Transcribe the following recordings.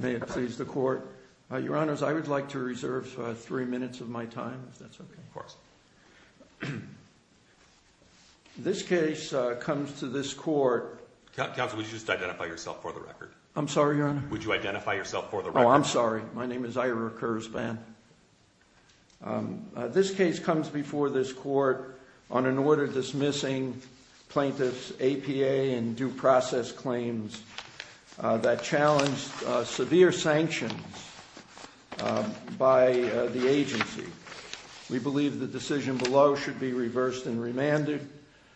May it please the Court. Your Honors, I would like to reserve three minutes of my time, if that's okay. Of course. This case comes to this Court... Counsel, would you just identify yourself for the record? I'm sorry, Your Honor? Would you identify yourself for the record? Oh, I'm sorry. My name is Ira Kurzban. This case comes before this Court on an order dismissing plaintiffs' APA and due process claims that challenged severe sanctions by the agency. We believe the decision below should be reversed and remanded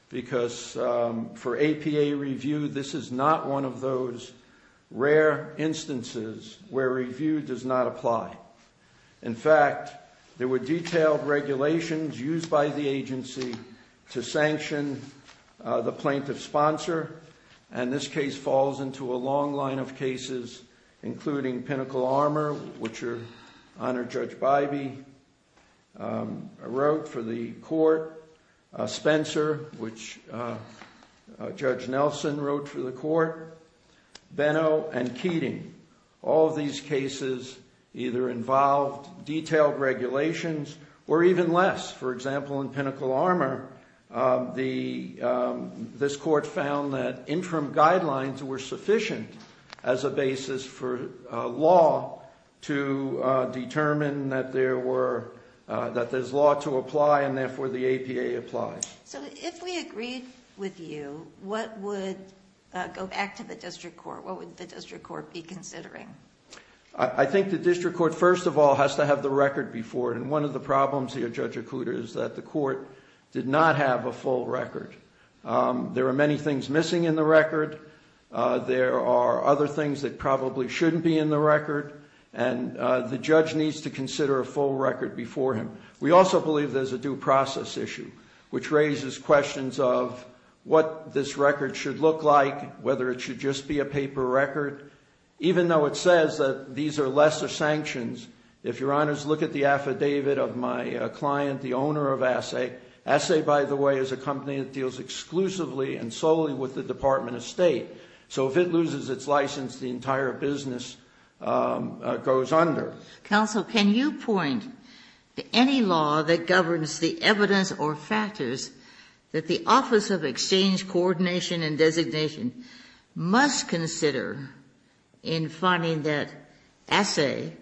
because for APA review, this is not one of those rare instances where review does not apply. In fact, there were detailed regulations used by the agency to sanction the plaintiff's sponsor, and this case falls into a long line of cases, including Pinnacle Armor, which Your Honor Judge Bybee wrote for the Court, Spencer, which Judge Nelson wrote for the Court, Benno, and Keating. All of these cases either involved detailed regulations or even less. For example, in Pinnacle Armor, this Court found that interim guidelines were sufficient as a basis for law to determine that there's law to apply and therefore the APA applies. So if we agreed with you, what would go back to the district court? What would the district court be considering? I think the district court, first of all, has to have the record before it. And one of the problems here, Judge Okuda, is that the court did not have a full record. There are many things missing in the record. There are other things that probably shouldn't be in the record. And the judge needs to consider a full record before him. We also believe there's a due process issue, which raises questions of what this record should look like, whether it should just be a paper record. Even though it says that these are lesser sanctions, if Your Honors look at the affidavit of my client, the owner of Essay. Essay, by the way, is a company that deals exclusively and solely with the Department of State. So if it loses its license, the entire business goes under. Counsel, can you point to any law that governs the evidence or factors that the Office of Exchange Coordination and Designation must consider in finding that Essay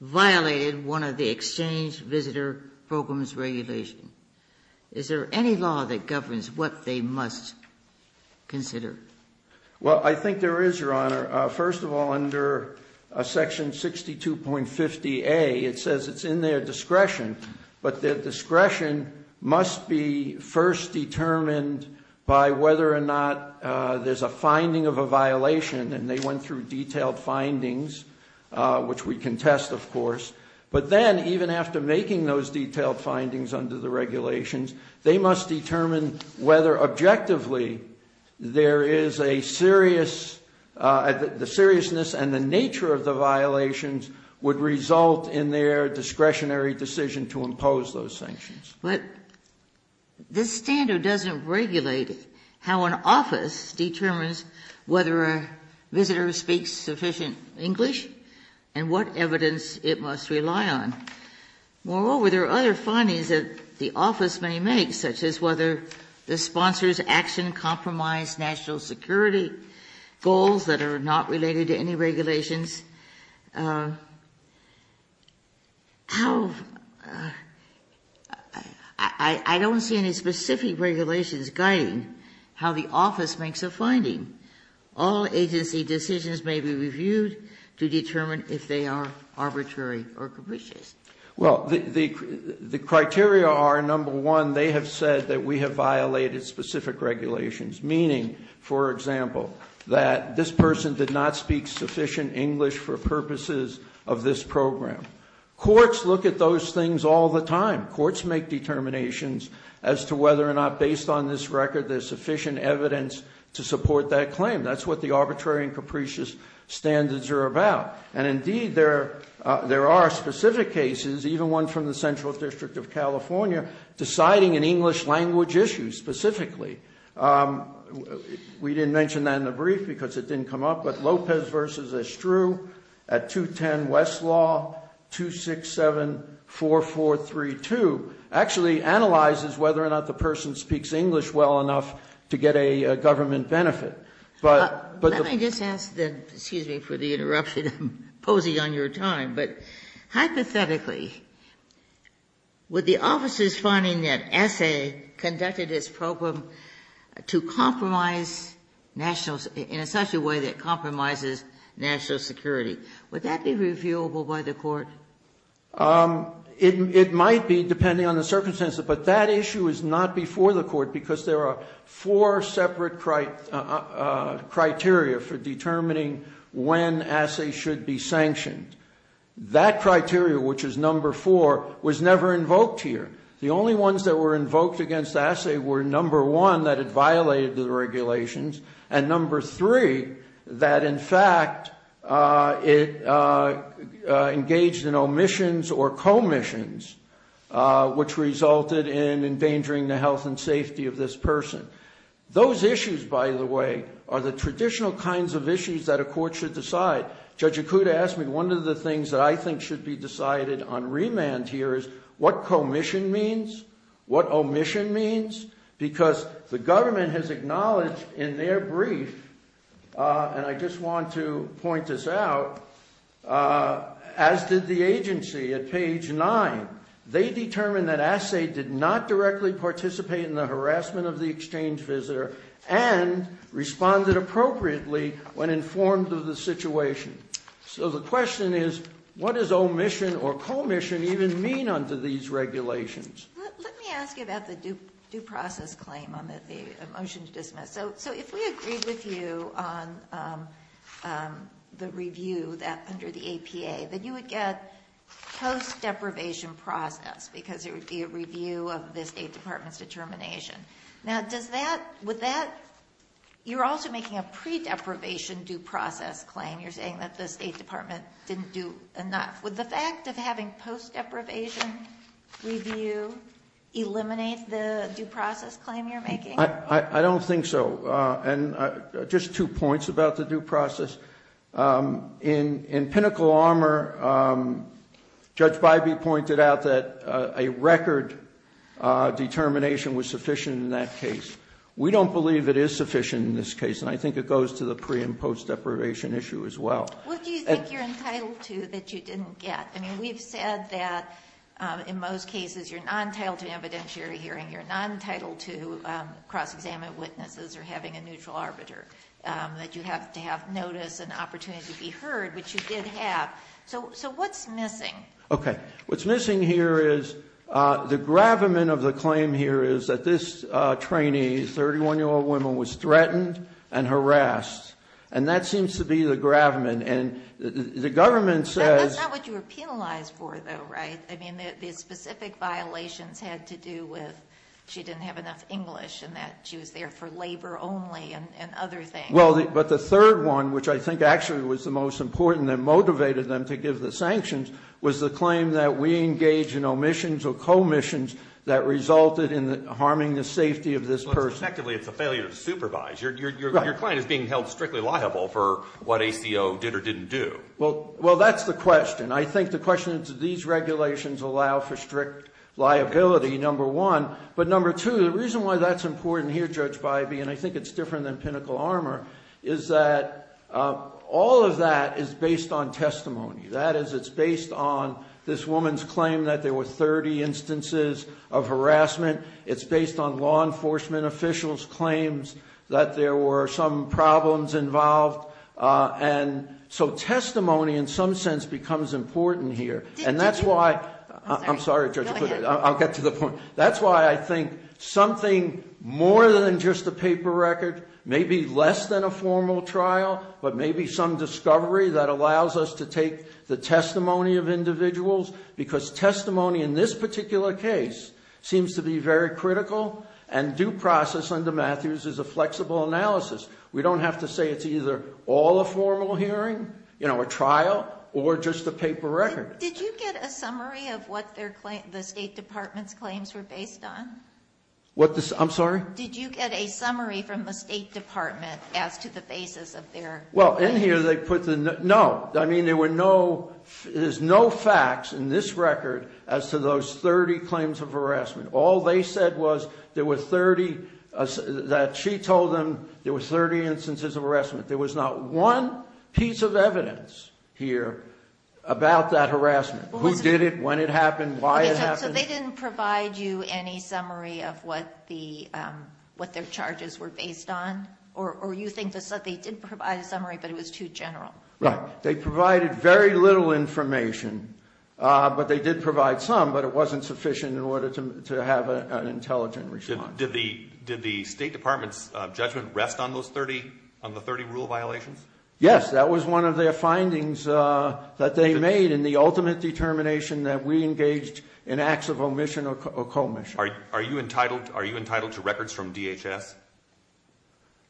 violated one of the Exchange Visitor Program's regulations? Is there any law that governs what they must consider? First of all, under section 62.50A, it says it's in their discretion. But their discretion must be first determined by whether or not there's a finding of a violation. And they went through detailed findings, which we can test, of course. But then, even after making those detailed findings under the regulations, they must determine whether objectively there is a serious the seriousness and the nature of the violations would result in their discretionary decision to impose those sanctions. But this standard doesn't regulate how an office determines whether a visitor speaks sufficient English and what evidence it must rely on. Moreover, there are other findings that the office may make, such as whether the sponsor's action compromised national security goals that are not related to any regulations. How do I don't see any specific regulations guiding how the office makes a finding. All agency decisions may be reviewed to determine if they are arbitrary or capricious. Well, the criteria are, number one, they have said that we have violated specific regulations. Meaning, for example, that this person did not speak sufficient English for purposes of this program. Courts look at those things all the time. Courts make determinations as to whether or not, based on this record, there's sufficient evidence to support that claim. That's what the arbitrary and capricious standards are about. And indeed, there are specific cases, even one from the Central District of California, deciding an English language issue specifically. We didn't mention that in the brief because it didn't come up, but Lopez versus Estru at 210 Westlaw 2674432 actually analyzes whether or not the person speaks English well enough to get a government benefit. But the Let me just ask, excuse me for the interruption, I'm posing on your time, but hypothetically, would the officers finding that S.A. conducted this program to compromise nationals in such a way that compromises national security, would that be reviewable by the court? It might be, depending on the circumstances, but that issue is not before the court because there are four separate criteria for determining when S.A. should be sanctioned. That criteria, which is number four, was never invoked here. The only ones that were invoked against S.A. were number one, that it violated the regulations, and number three, that in fact, it engaged in omissions or in the safety of this person. Those issues, by the way, are the traditional kinds of issues that a court should decide. Judge Ikuda asked me, one of the things that I think should be decided on remand here is what commission means, what omission means, because the government has acknowledged in their brief, and I just want to point this out, as did the agency at page nine. They determined that S.A. did not directly participate in the harassment of the exchange visitor and responded appropriately when informed of the situation. So the question is, what does omission or commission even mean under these regulations? Let me ask you about the due process claim on the motion to dismiss. So if we agreed with you on the review under the APA, then you would get post-deprivation process, because it would be a review of the State Department's determination. Now does that, would that, you're also making a pre-deprivation due process claim. You're saying that the State Department didn't do enough. Would the fact of having post-deprivation review eliminate the due process claim you're making? I don't think so, and just two points about the due process. In Pinnacle Armor, Judge Bybee pointed out that a record determination was sufficient in that case. We don't believe it is sufficient in this case, and I think it goes to the pre- and post-deprivation issue as well. What do you think you're entitled to that you didn't get? I mean, we've said that in most cases, you're not entitled to an evidentiary hearing. You're not entitled to cross-examining witnesses or having a neutral arbiter. That you have to have notice and opportunity to be heard, which you did have. So what's missing? Okay, what's missing here is the gravamen of the claim here is that this trainee, 31-year-old woman, was threatened and harassed. And that seems to be the gravamen, and the government says- That's not what you were penalized for, though, right? I mean, the specific violations had to do with she didn't have enough English and she was there for labor only and other things. Well, but the third one, which I think actually was the most important that motivated them to give the sanctions, was the claim that we engage in omissions or co-omissions that resulted in harming the safety of this person. Effectively, it's a failure to supervise. Your client is being held strictly liable for what ACO did or didn't do. Well, that's the question. I think the question is, do these regulations allow for strict liability, number one. But number two, the reason why that's important here, Judge Bybee, and I think it's different than Pinnacle Armor, is that all of that is based on testimony. That is, it's based on this woman's claim that there were 30 instances of harassment. It's based on law enforcement officials' claims that there were some problems involved. And so testimony, in some sense, becomes important here. And that's why, I'm sorry, Judge, I'll get to the point. That's why I think something more than just a paper record, maybe less than a formal trial, but maybe some discovery that allows us to take the testimony of individuals. Because testimony in this particular case seems to be very critical and due process under Matthews is a flexible analysis. We don't have to say it's either all a formal hearing, a trial, or just a paper record. Did you get a summary of what the State Department's claims were based on? What the, I'm sorry? Did you get a summary from the State Department as to the basis of their- Well, in here they put the, no. I mean there were no, there's no facts in this record as to those 30 claims of harassment. All they said was there were 30, that she told them there were 30 instances of harassment. There was not one piece of evidence here about that harassment. Who did it, when it happened, why it happened. So they didn't provide you any summary of what their charges were based on? Or you think they did provide a summary, but it was too general? Right, they provided very little information. But they did provide some, but it wasn't sufficient in order to have an intelligent response. Did the State Department's judgment rest on those 30, on the 30 rule violations? Yes, that was one of their findings that they made in the ultimate determination that we engaged in acts of omission or co-omission. Are you entitled to records from DHS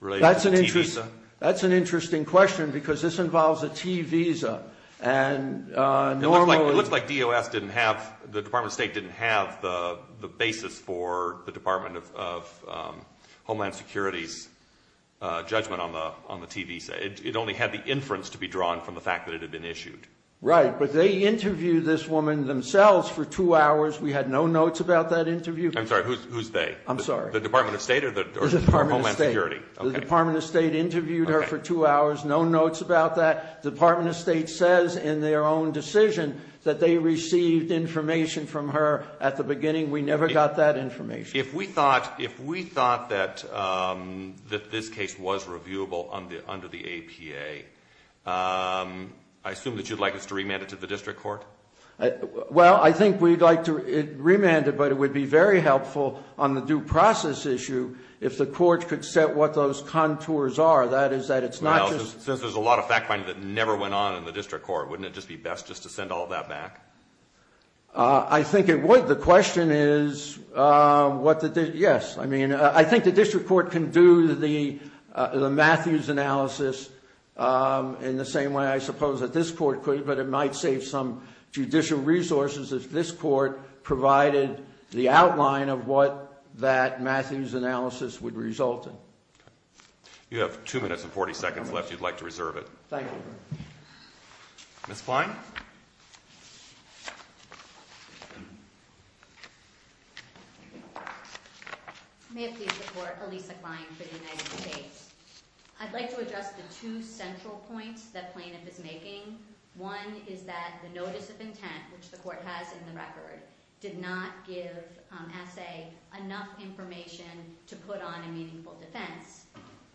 related to a T visa? That's an interesting question, because this involves a T visa, and normally- It looks like DOS didn't have, the Department of State didn't have the basis for the Department of Homeland Security's judgment on the T visa. It only had the inference to be drawn from the fact that it had been issued. Right, but they interviewed this woman themselves for two hours. We had no notes about that interview. I'm sorry, who's they? I'm sorry. The Department of State or the Department of Homeland Security? The Department of State interviewed her for two hours, no notes about that. The Department of State says in their own decision that they received information from her at the beginning. We never got that information. If we thought that this case was reviewable under the APA, I assume that you'd like us to remand it to the district court? Well, I think we'd like to remand it, but it would be very helpful on the due process issue if the court could set what those contours are, that is that it's not just- Since there's a lot of fact finding that never went on in the district court, wouldn't it just be best just to send all of that back? I think it would. The question is, yes, I mean, I think the district court can do the Matthews analysis in the same way I suppose that this court could, but it might save some judicial resources if this court provided the outline of what that Matthews analysis would result in. You have two minutes and 40 seconds left. You'd like to reserve it. Thank you. Ms. Klein? May it please the court, Elisa Klein for the United States. I'd like to address the two central points that plaintiff is making. One is that the notice of intent, which the court has in the record, did not give assay enough information to put on a meaningful defense.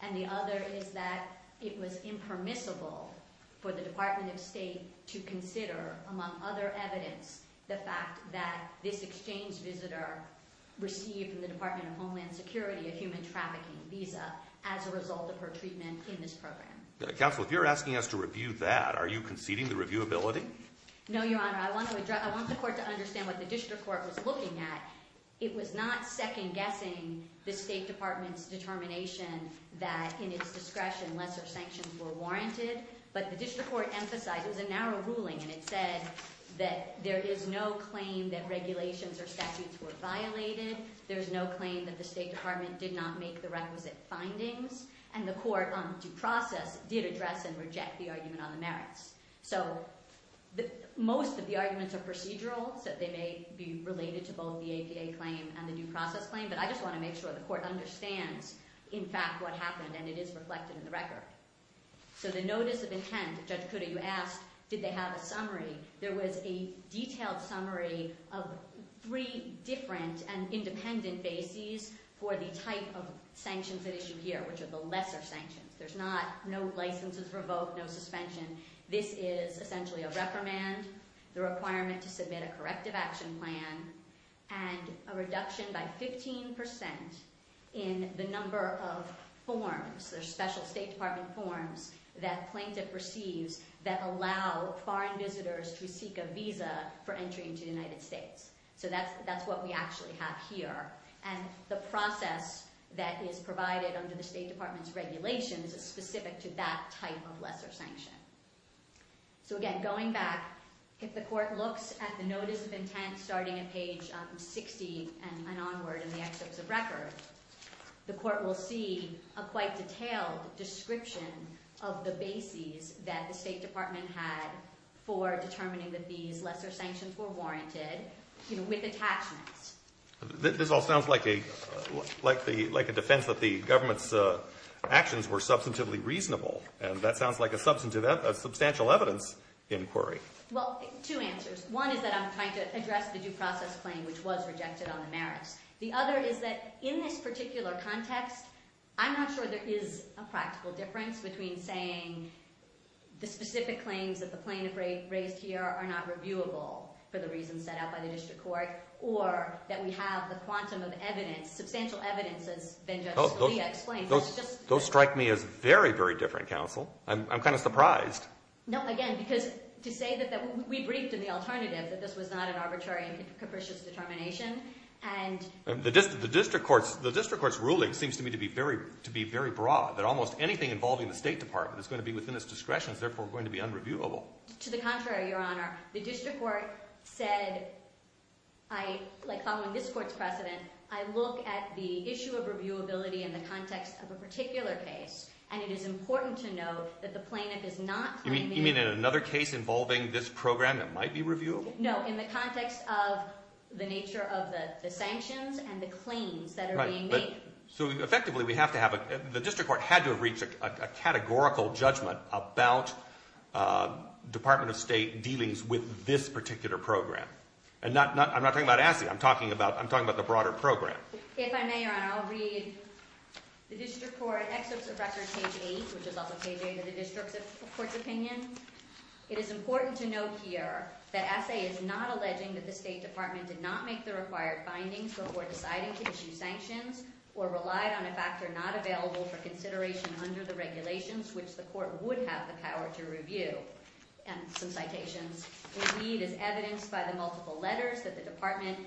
And the other is that it was impermissible for the Department of State to consider, among other evidence, the fact that this exchange visitor received from the Department of Homeland Security a human trafficking visa as a result of her treatment in this program. Counsel, if you're asking us to review that, are you conceding the reviewability? No, Your Honor. I want the court to understand what the district court was looking at. It was not second guessing the State Department's determination that in its discretion, lesser sanctions were warranted. But the district court emphasized, it was a narrow ruling, and it said that there is no claim that regulations or statutes were violated. There's no claim that the State Department did not make the requisite findings. And the court, due process, did address and reject the argument on the merits. So most of the arguments are procedural, so they may be related to both the APA claim and the due process claim. But I just want to make sure the court understands, in fact, what happened, and it is reflected in the record. So the notice of intent, Judge Kutta, you asked, did they have a summary? There was a detailed summary of three different and independent bases for the type of sanctions at issue here, which are the lesser sanctions. There's no licenses revoked, no suspension. This is essentially a reprimand, the requirement to submit a corrective action plan, and a reduction by 15% in the number of forms, the special State Department forms that plaintiff receives that allow foreign visitors to seek a visa for entry into the United States. So that's what we actually have here. And the process that is provided under the State Department's regulations is specific to that type of lesser sanction. So again, going back, if the court looks at the notice of intent starting at page 60 and onward in the excerpts of record, the court will see a quite detailed description of the bases that the State Department had for determining that these lesser sanctions were warranted with attachments. This all sounds like a defense that the government's actions were substantively reasonable. And that sounds like a substantial evidence inquiry. Well, two answers. One is that I'm trying to address the due process claim, which was rejected on the merits. The other is that in this particular context, I'm not sure there is a practical difference between saying the specific claims that the plaintiff raised here are not reviewable for the reasons set out by the district court. Or that we have the quantum of evidence, substantial evidence, as then Justice Scalia explained. Those strike me as very, very different, counsel. I'm kind of surprised. No, again, because to say that we briefed in the alternative that this was not an arbitrary and capricious determination and- The district court's ruling seems to me to be very broad. That almost anything involving the State Department is going to be within its discretion is therefore going to be unreviewable. To the contrary, your honor. The district court said, following this court's precedent, I look at the issue of reviewability in the context of a particular case. And it is important to note that the plaintiff is not- You mean in another case involving this program that might be reviewable? No, in the context of the nature of the sanctions and the claims that are being made. So effectively, the district court had to have reached a categorical judgment about Department of State dealings with this particular program. And I'm not talking about ASSE, I'm talking about the broader program. If I may, your honor, I'll read the district court excerpts of record page eight, which is also page eight of the district court's opinion. It is important to note here that ASSE is not alleging that the State Department did not make the required findings, but were deciding to issue sanctions, or relied on a factor not available for consideration under the regulations which the court would have the power to review. And some citations. Indeed, as evidenced by the multiple letters that the department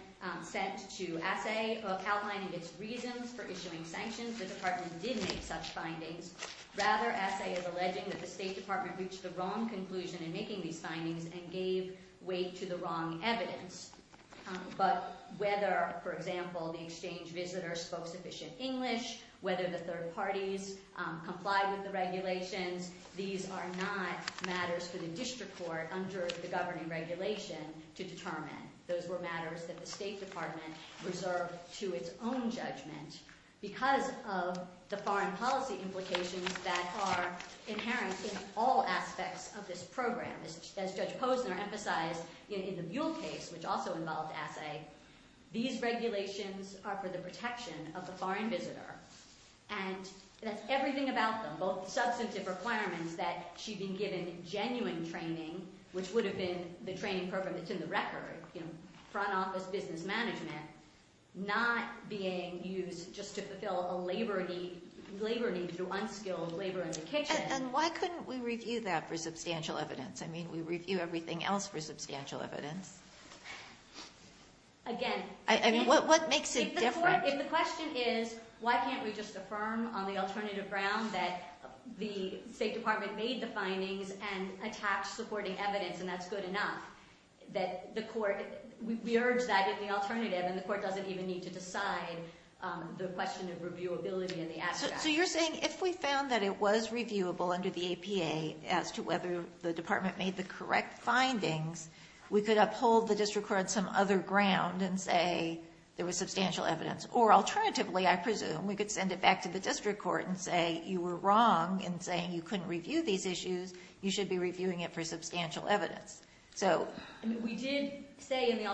sent to ASSE outlining its reasons for issuing sanctions, the department did make such findings. Rather, ASSE is alleging that the State Department reached the wrong conclusion in making these findings and gave way to the wrong evidence. But whether, for example, the exchange visitor spoke sufficient English, whether the third parties complied with the regulations, these are not matters for the district court under the governing regulation to determine. Those were matters that the State Department reserved to its own judgment. Because of the foreign policy implications that are inherent in all aspects of this program. As Judge Posner emphasized in the Buell case, which also involved ASSE, these regulations are for the protection of the foreign visitor. And that's everything about them, both substantive requirements that she'd been given genuine training, which would have been the training program that's in the record, front office business management, not being used just to fulfill a labor need to do unskilled labor in the kitchen. And why couldn't we review that for substantial evidence? I mean, we review everything else for substantial evidence. Again- I mean, what makes it different? If the question is, why can't we just affirm on the alternative ground that the State Department made the findings and attached supporting evidence, and that's good enough, that the court, we urge that in the alternative. And the court doesn't even need to decide the question of reviewability in the abstract. So you're saying if we found that it was reviewable under the APA as to whether the department made the correct findings, we could uphold the district court on some other ground and say there was substantial evidence. Or alternatively, I presume, we could send it back to the district court and say you were wrong in saying you couldn't review these issues. You should be reviewing it for substantial evidence. So- I mean, I don't think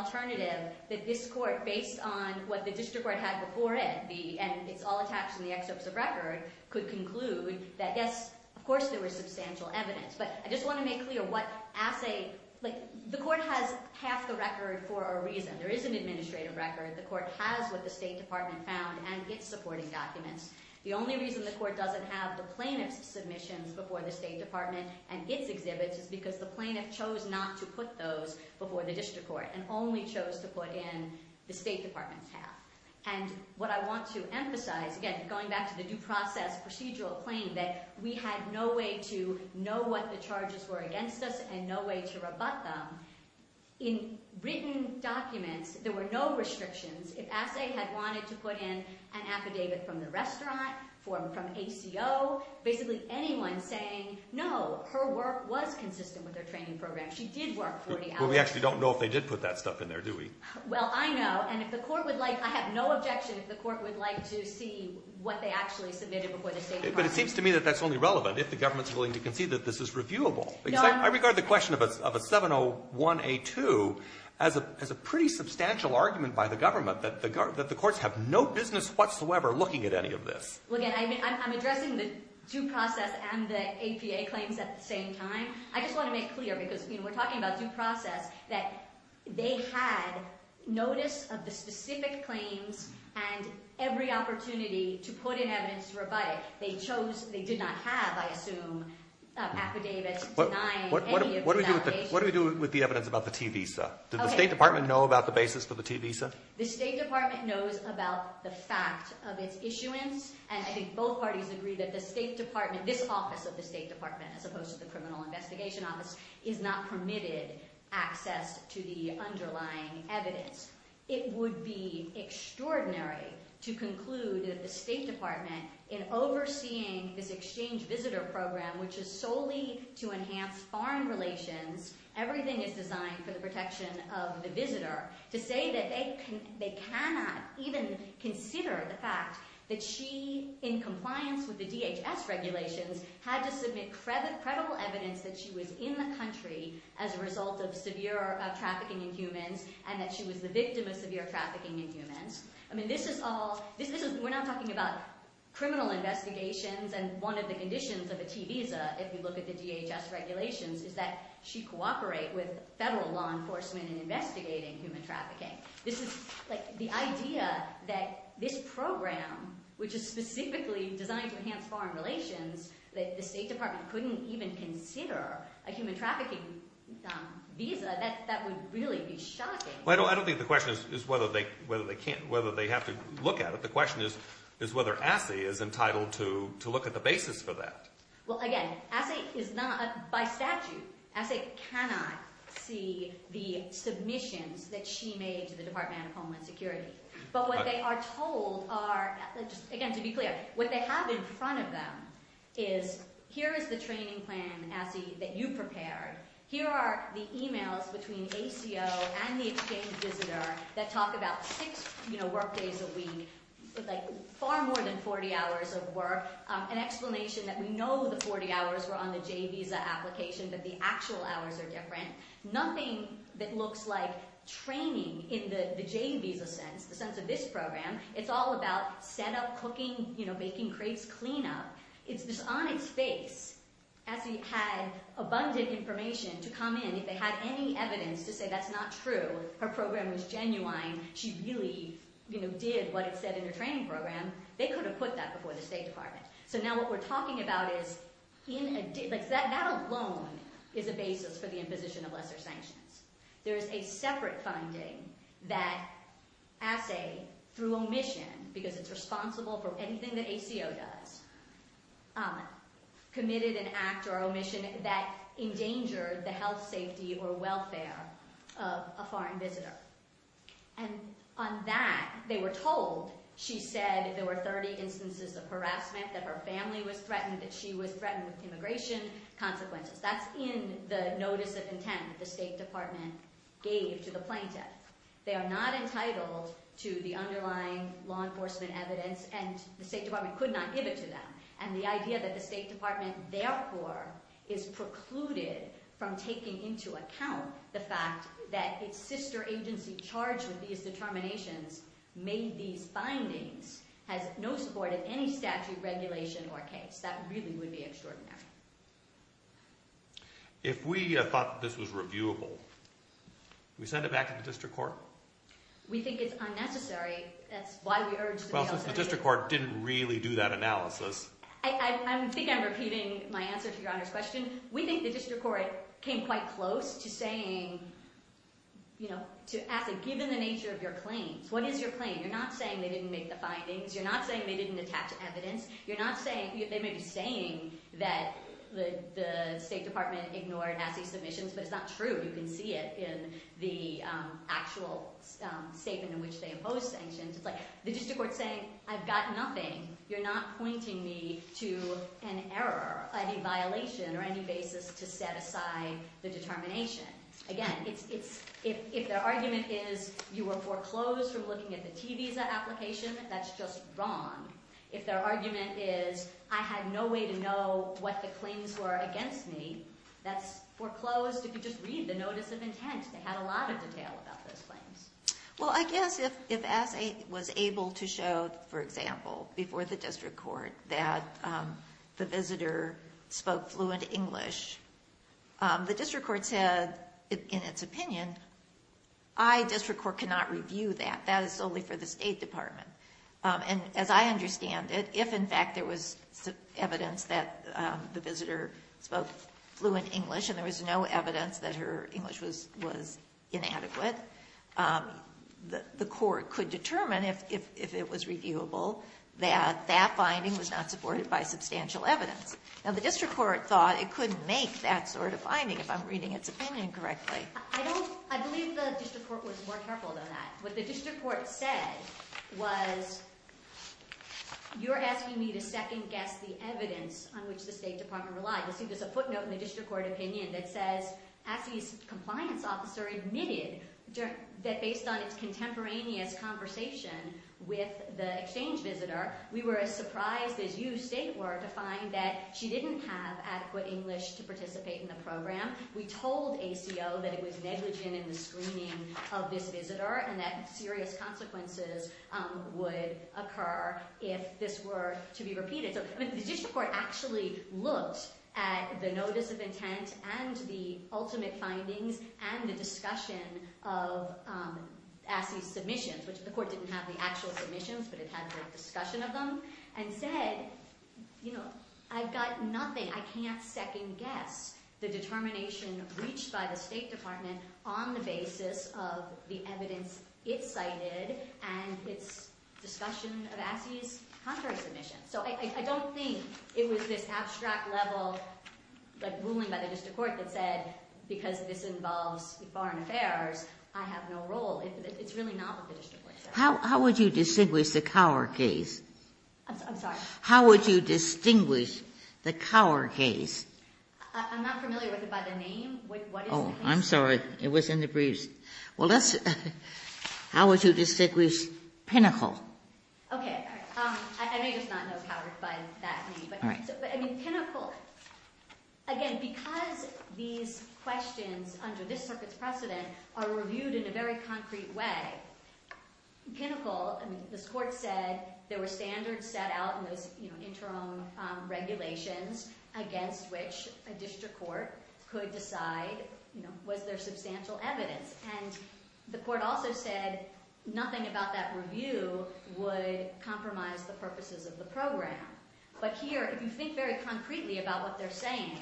that the court, in fact, in the excerpts of record, could conclude that yes, of course, there was substantial evidence. But I just want to make clear what assay, like the court has half the record for a reason. There is an administrative record. The court has what the State Department found and its supporting documents. The only reason the court doesn't have the plaintiff's submissions before the State Department and its exhibits is because the plaintiff chose not to put those before the district court and only chose to put in the State Department's half. And what I want to emphasize, again, going back to the due process procedural claim that we had no way to know what the charges were against us and no way to rebut them. In written documents, there were no restrictions. If assay had wanted to put in an affidavit from the restaurant, from ACO, basically anyone saying, no, her work was consistent with her training program. She did work 40 hours. Well, we actually don't know if they did put that stuff in there, do we? Well, I know. And if the court would like, I have no objection if the court would like to see what they actually submitted before the State Department. But it seems to me that that's only relevant if the government's willing to concede that this is reviewable. Because I regard the question of a 701A2 as a pretty substantial argument by the government that the courts have no business whatsoever looking at any of this. Well, again, I'm addressing the due process and the APA claims at the same time. I just want to make clear, because we're talking about due process, that they had notice of the specific claims and every opportunity to put in evidence to rebut it. They chose, they did not have, I assume, affidavits denying any of the allegations. What do we do with the evidence about the T visa? Did the State Department know about the basis for the T visa? The State Department knows about the fact of its issuance. And I think both parties agree that the State Department, this office of the State Department, as opposed to the Criminal Investigation Office, is not permitted access to the underlying evidence. It would be extraordinary to conclude that the State Department, in overseeing this exchange visitor program, which is solely to enhance foreign relations, to say that they cannot even consider the fact that she, in compliance with the DHS regulations, had to submit credible evidence that she was in the country as a result of severe trafficking in humans and that she was the victim of severe trafficking in humans. I mean, this is all, we're not talking about criminal investigations. And one of the conditions of a T visa, if you look at the DHS regulations, is that she cooperate with federal law enforcement in investigating human trafficking. This is, like, the idea that this program, which is specifically designed to enhance foreign relations, that the State Department couldn't even consider a human trafficking visa, that would really be shocking. Well, I don't think the question is whether they can't, whether they have to look at it. The question is whether ASSE is entitled to look at the basis for that. Well, again, ASSE is not, by statute, ASSE cannot see the submissions that she made to the Department of Homeland Security. But what they are told are, again, to be clear, what they have in front of them is, here is the training plan, ASSE, that you prepared. Here are the emails between ACO and the exchange visitor that talk about six, you know, workdays a week, with, like, far more than 40 hours of work, an explanation that we know the 40 hours were on the J visa application, but the actual hours are different. Nothing that looks like training in the J visa sense, the sense of this program. It's all about setup, cooking, you know, baking crepes, cleanup. It's this on its face. ASSE had abundant information to come in if they had any evidence to say that's not true. Her program was genuine. She really, you know, did what it said in her training program. They could have put that before the State Department. So now what we're talking about is, in a, like, that alone is a basis for the imposition of lesser sanctions. There is a separate finding that ASSE, through omission, because it's responsible for anything that ACO does, committed an act or omission that endangered the health, safety, or welfare of a foreign visitor. And on that, they were told, she said, there were 30 instances of harassment, that her family was threatened, that she was threatened with immigration consequences. That's in the notice of intent that the State Department gave to the plaintiff. They are not entitled to the underlying law enforcement evidence, and the State Department could not give it to them. And the idea that the State Department, therefore, is precluded from taking into account the fact that its sister agency charged with these determinations made these findings, has no support of any statute, regulation, or case. That really would be extraordinary. If we thought that this was reviewable, do we send it back to the District Court? We think it's unnecessary. That's why we urge the- Well, since the District Court didn't really do that analysis. I think I'm repeating my answer to Your Honor's question. We think the District Court came quite close to saying, you know, to asking, given the nature of your claims, what is your claim? You're not saying they didn't make the findings. You're not saying they didn't attach evidence. You're not saying, they may be saying that the State Department ignored assay submissions, but it's not true. You can see it in the actual statement in which they imposed sanctions. It's like the District Court saying, I've got nothing. You're not pointing me to an error, a violation, or any basis to set aside the determination. Again, if their argument is you were foreclosed from looking at the T visa application, that's just wrong. If their argument is I had no way to know what the claims were against me, that's foreclosed. If you just read the notice of intent, they had a lot of detail about those claims. Well, I guess if assay was able to show, for example, before the District Court that the visitor spoke fluent English, the District Court said in its opinion, I, District Court, cannot review that. That is solely for the State Department. And as I understand it, if in fact there was evidence that the visitor spoke fluent English and there was no evidence that her English was inadequate, the court could determine if it was reviewable that that finding was not supported by substantial evidence. Now, the District Court thought it could make that sort of finding, if I'm reading its opinion correctly. I believe the District Court was more careful than that. What the District Court said was, you're asking me to second guess the evidence on which the State Department relied. There's a footnote in the District Court opinion that says assay's compliance officer admitted that based on its contemporaneous conversation with the exchange visitor, we were as surprised as you state were to find that she didn't have adequate English to participate in the program. We told ACO that it was negligent in the screening of this visitor and that serious consequences would occur if this were to be repeated. So the District Court actually looked at the notice of intent and the ultimate findings and the discussion of assay's submissions, which the court didn't have the actual submissions, but it had the discussion of them. And said, I've got nothing, I can't second guess the determination reached by the State Department on the basis of the evidence it cited and its discussion of assay's contrary submission. So I don't think it was this abstract level, like ruling by the District Court, that said because this involves foreign affairs, I have no role. It's really not what the District Court said. How would you distinguish the Cower case? I'm sorry? How would you distinguish the Cower case? I'm not familiar with it by the name. What is the case? I'm sorry, it was in the briefs. Well, let's, how would you distinguish Pinnacle? Okay, I may just not know Cower by that name. But I mean, Pinnacle, again, because these questions under this circuit's precedent are reviewed in a very concrete way, Pinnacle, I mean, this court said there were standards set out in those interim regulations against which a district court could decide, was there substantial evidence? And the court also said nothing about that review would compromise the purposes of the program. But here, if you think very concretely about what they're saying,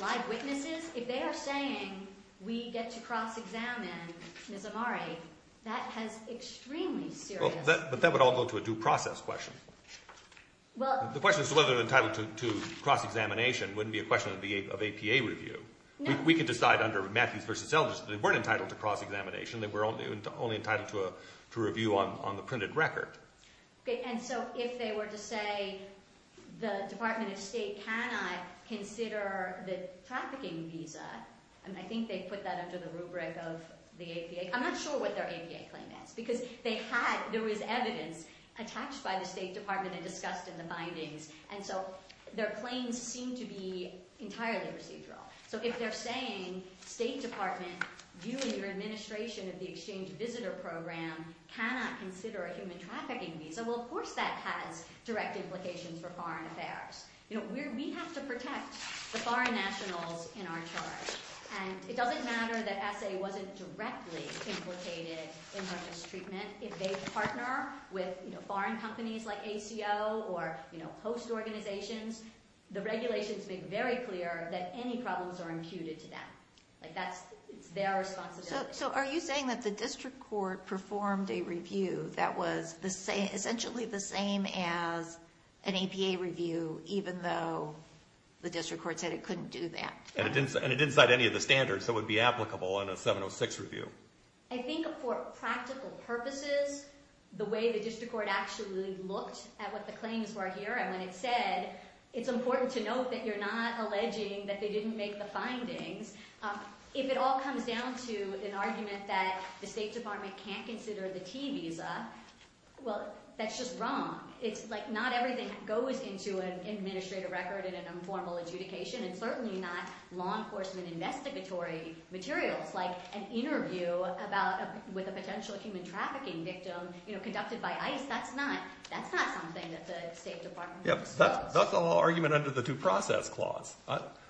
live witnesses, if they are saying, we get to cross-examine Ms. Amari, that has extremely serious- Well, but that would all go to a due process question. Well- The question is whether they're entitled to cross-examination wouldn't be a question of APA review. We could decide under Matthews versus Eldridge that they weren't entitled to cross-examination, they were only entitled to a review on the printed record. Okay, and so if they were to say, the Department of State cannot consider the trafficking visa, and I think they put that under the rubric of the APA, I'm not sure what their APA claim is, because they had, there was evidence attached by the State Department and discussed in the bindings, and so their claims seem to be entirely procedural. If they're saying, State Department, you and your administration of the exchange visitor program cannot consider a human trafficking visa, well, of course that has direct implications for foreign affairs. We have to protect the foreign nationals in our charge, and it doesn't matter that ESEA wasn't directly implicated in drug mistreatment. If they partner with foreign companies like ACO or host organizations, the regulations make very clear that any problems are imputed to them. Like, that's, it's their responsibility. So, are you saying that the district court performed a review that was essentially the same as an APA review, even though the district court said it couldn't do that? And it didn't cite any of the standards that would be applicable in a 706 review. I think for practical purposes, the way the district court actually looked at what the claims were here, and when it said, it's important to note that you're not alleging that they didn't make the findings, if it all comes down to an argument that the State Department can't consider the T visa, well, that's just wrong. It's like, not everything goes into an administrative record and an informal adjudication, and certainly not law enforcement investigatory materials. Like, an interview about, with a potential human trafficking victim, you know, conducted by ICE, that's not, that's not something that the State Department would disclose. That's a law argument under the due process clause.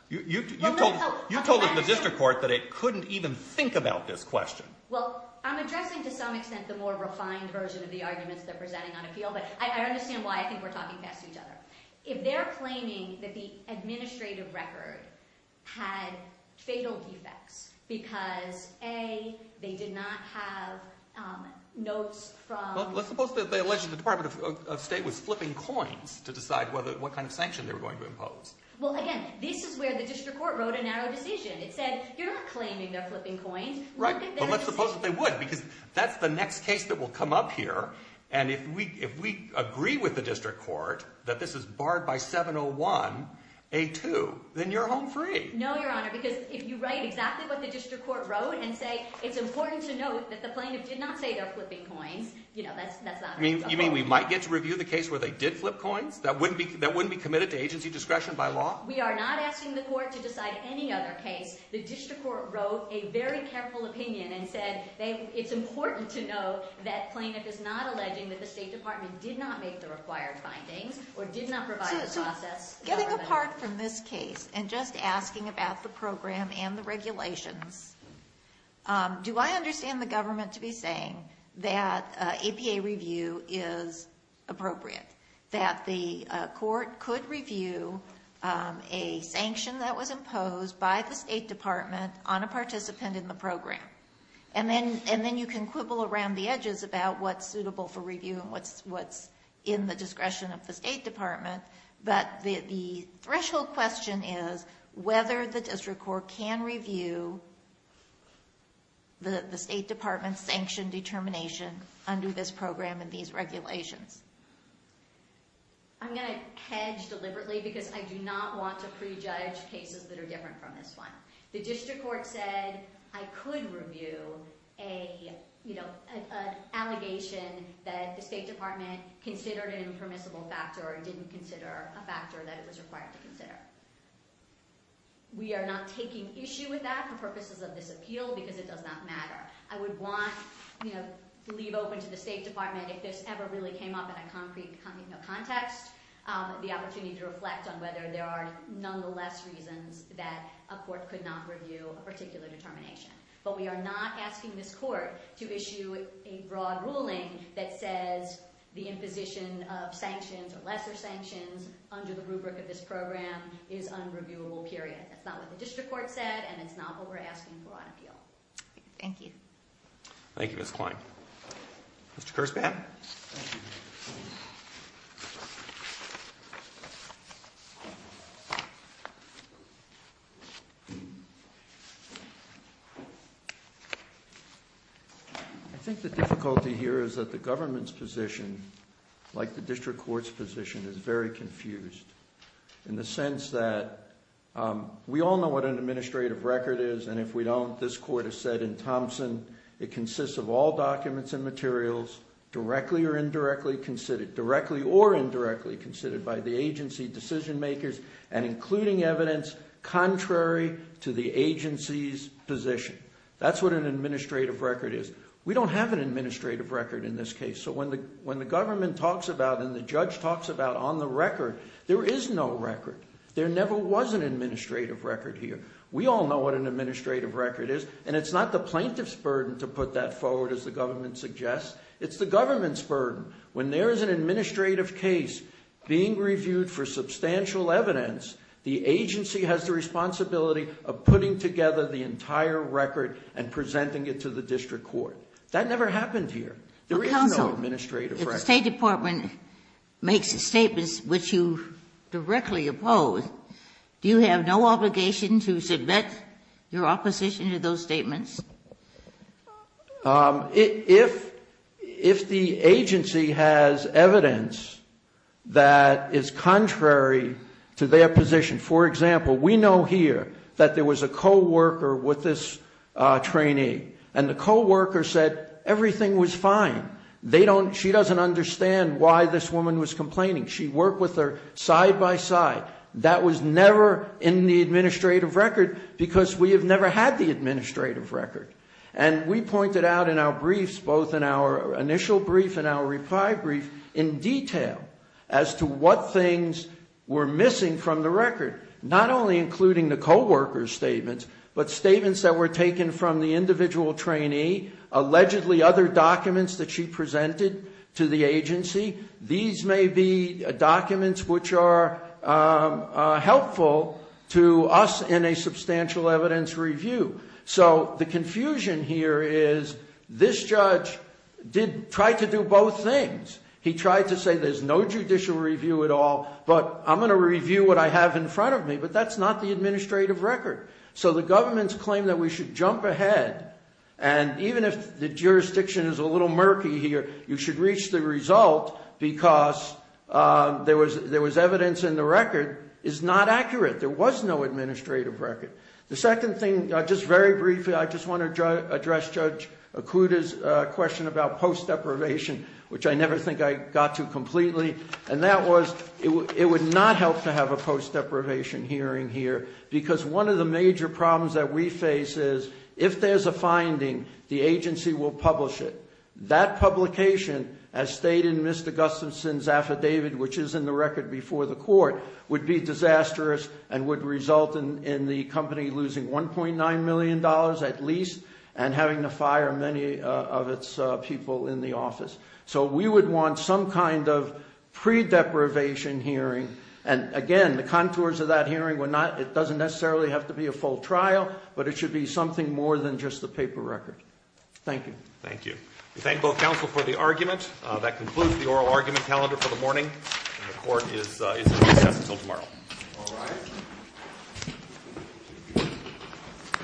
You told the district court that it couldn't even think about this question. Well, I'm addressing, to some extent, the more refined version of the arguments they're presenting on appeal, but I understand why I think we're talking past each other. If they're claiming that the administrative record had fatal defects because, A, they did not have notes from... Let's suppose that they alleged that the Department of State was flipping coins to decide what kind of sanction they were going to impose. Well, again, this is where the district court wrote a narrow decision. It said, you're not claiming they're flipping coins. Right, but let's suppose that they would, because that's the next case that will come up here, and if we agree with the district court that this is barred by 701, A2, then you're home free. No, Your Honor, because if you write exactly what the district court wrote and say, it's important to note that the plaintiff did not say they're flipping coins, you know, that's not... You mean we might get to review the case where they did flip coins? That wouldn't be committed to agency discretion by law? We are not asking the court to decide any other case. The district court wrote a very careful opinion and said, it's important to note that plaintiff is not alleging that the State Department did not make the required findings or did not provide a process... Getting apart from this case and just asking about the program and the regulations, do I understand the government to be saying that APA review is appropriate? That the court could review a sanction that was imposed by the State Department on a participant in the program? And then you can quibble around the edges about what's suitable for review and what's in the discretion of the State Department, but the threshold question is whether the district court can review the State Department's sanctioned determination under this program and these regulations. I'm going to hedge deliberately because I do not want to prejudge cases that are different from this one. The district court said I could review an allegation that the State Department considered an impermissible factor or didn't consider a factor that it was required to consider. We are not taking issue with that for purposes of this appeal because it does not matter. I would want to leave open to the State Department if this ever really came up in a concrete context, the opportunity to reflect on whether there are nonetheless reasons that a court could not review a particular determination. But we are not asking this court to issue a broad ruling that says the imposition of sanctions or lesser sanctions under the rubric of this program is unreviewable, period. That's not what the district court said and it's not what we're asking for on appeal. Thank you. Thank you, Ms. Klein. Mr. Kerspan? I think the difficulty here is that the government's position, like the district court's position, is very confused in the sense that we all know what an administrative record is and if we don't, this court has said in Thompson, it consists of all documents and materials directly or indirectly considered by the agency decision makers and including evidence contrary to the agency's position. That's what an administrative record is. We don't have an administrative record in this case. When the government talks about and the judge talks about on the record, there is no record. There never was an administrative record here. We all know what an administrative record is and it's not the plaintiff's burden to put that forward as the government suggests. It's the government's burden. When there is an administrative case being reviewed for substantial evidence, the agency has the responsibility of putting together the entire record and presenting it to the district court. That never happened here. There is no administrative record. Counsel, if the State Department makes a statement which you directly oppose, do you have no obligation to submit your opposition to those statements? If the agency has evidence that is contrary to their position, for example, we know here that there was a co-worker with this trainee and the co-worker said everything was fine. She doesn't understand why this woman was complaining. She worked with her side by side. That was never in the administrative record because we have never had the administrative record. And we pointed out in our briefs, both in our initial brief and our reply brief, in detail as to what things were missing from the record, not only including the co-worker's but statements that were taken from the individual trainee, allegedly other documents that she presented to the agency. These may be documents which are helpful to us in a substantial evidence review. So the confusion here is this judge tried to do both things. He tried to say there's no judicial review at all, but I'm going to review what I have in front of me. But that's not the administrative record. So the government's claim that we should jump ahead and even if the jurisdiction is a little murky here, you should reach the result because there was evidence in the record is not accurate. There was no administrative record. The second thing, just very briefly, I just want to address Judge Okuda's question about post deprivation, which I never think I got to completely. And that was it would not help to have a post deprivation hearing here because one of the major problems that we face is if there's a finding, the agency will publish it. That publication, as stated in Mr. Gustafson's affidavit, which is in the record before the court, would be disastrous and would result in the company losing $1.9 million at least and having to fire many of its people in the office. So we would want some kind of pre-deprivation hearing. And again, the contours of that hearing, it doesn't necessarily have to be a full trial, but it should be something more than just the paper record. Thank you. Thank you. We thank both counsel for the argument. That concludes the oral argument calendar for the morning. The court is recessed until tomorrow. All rise.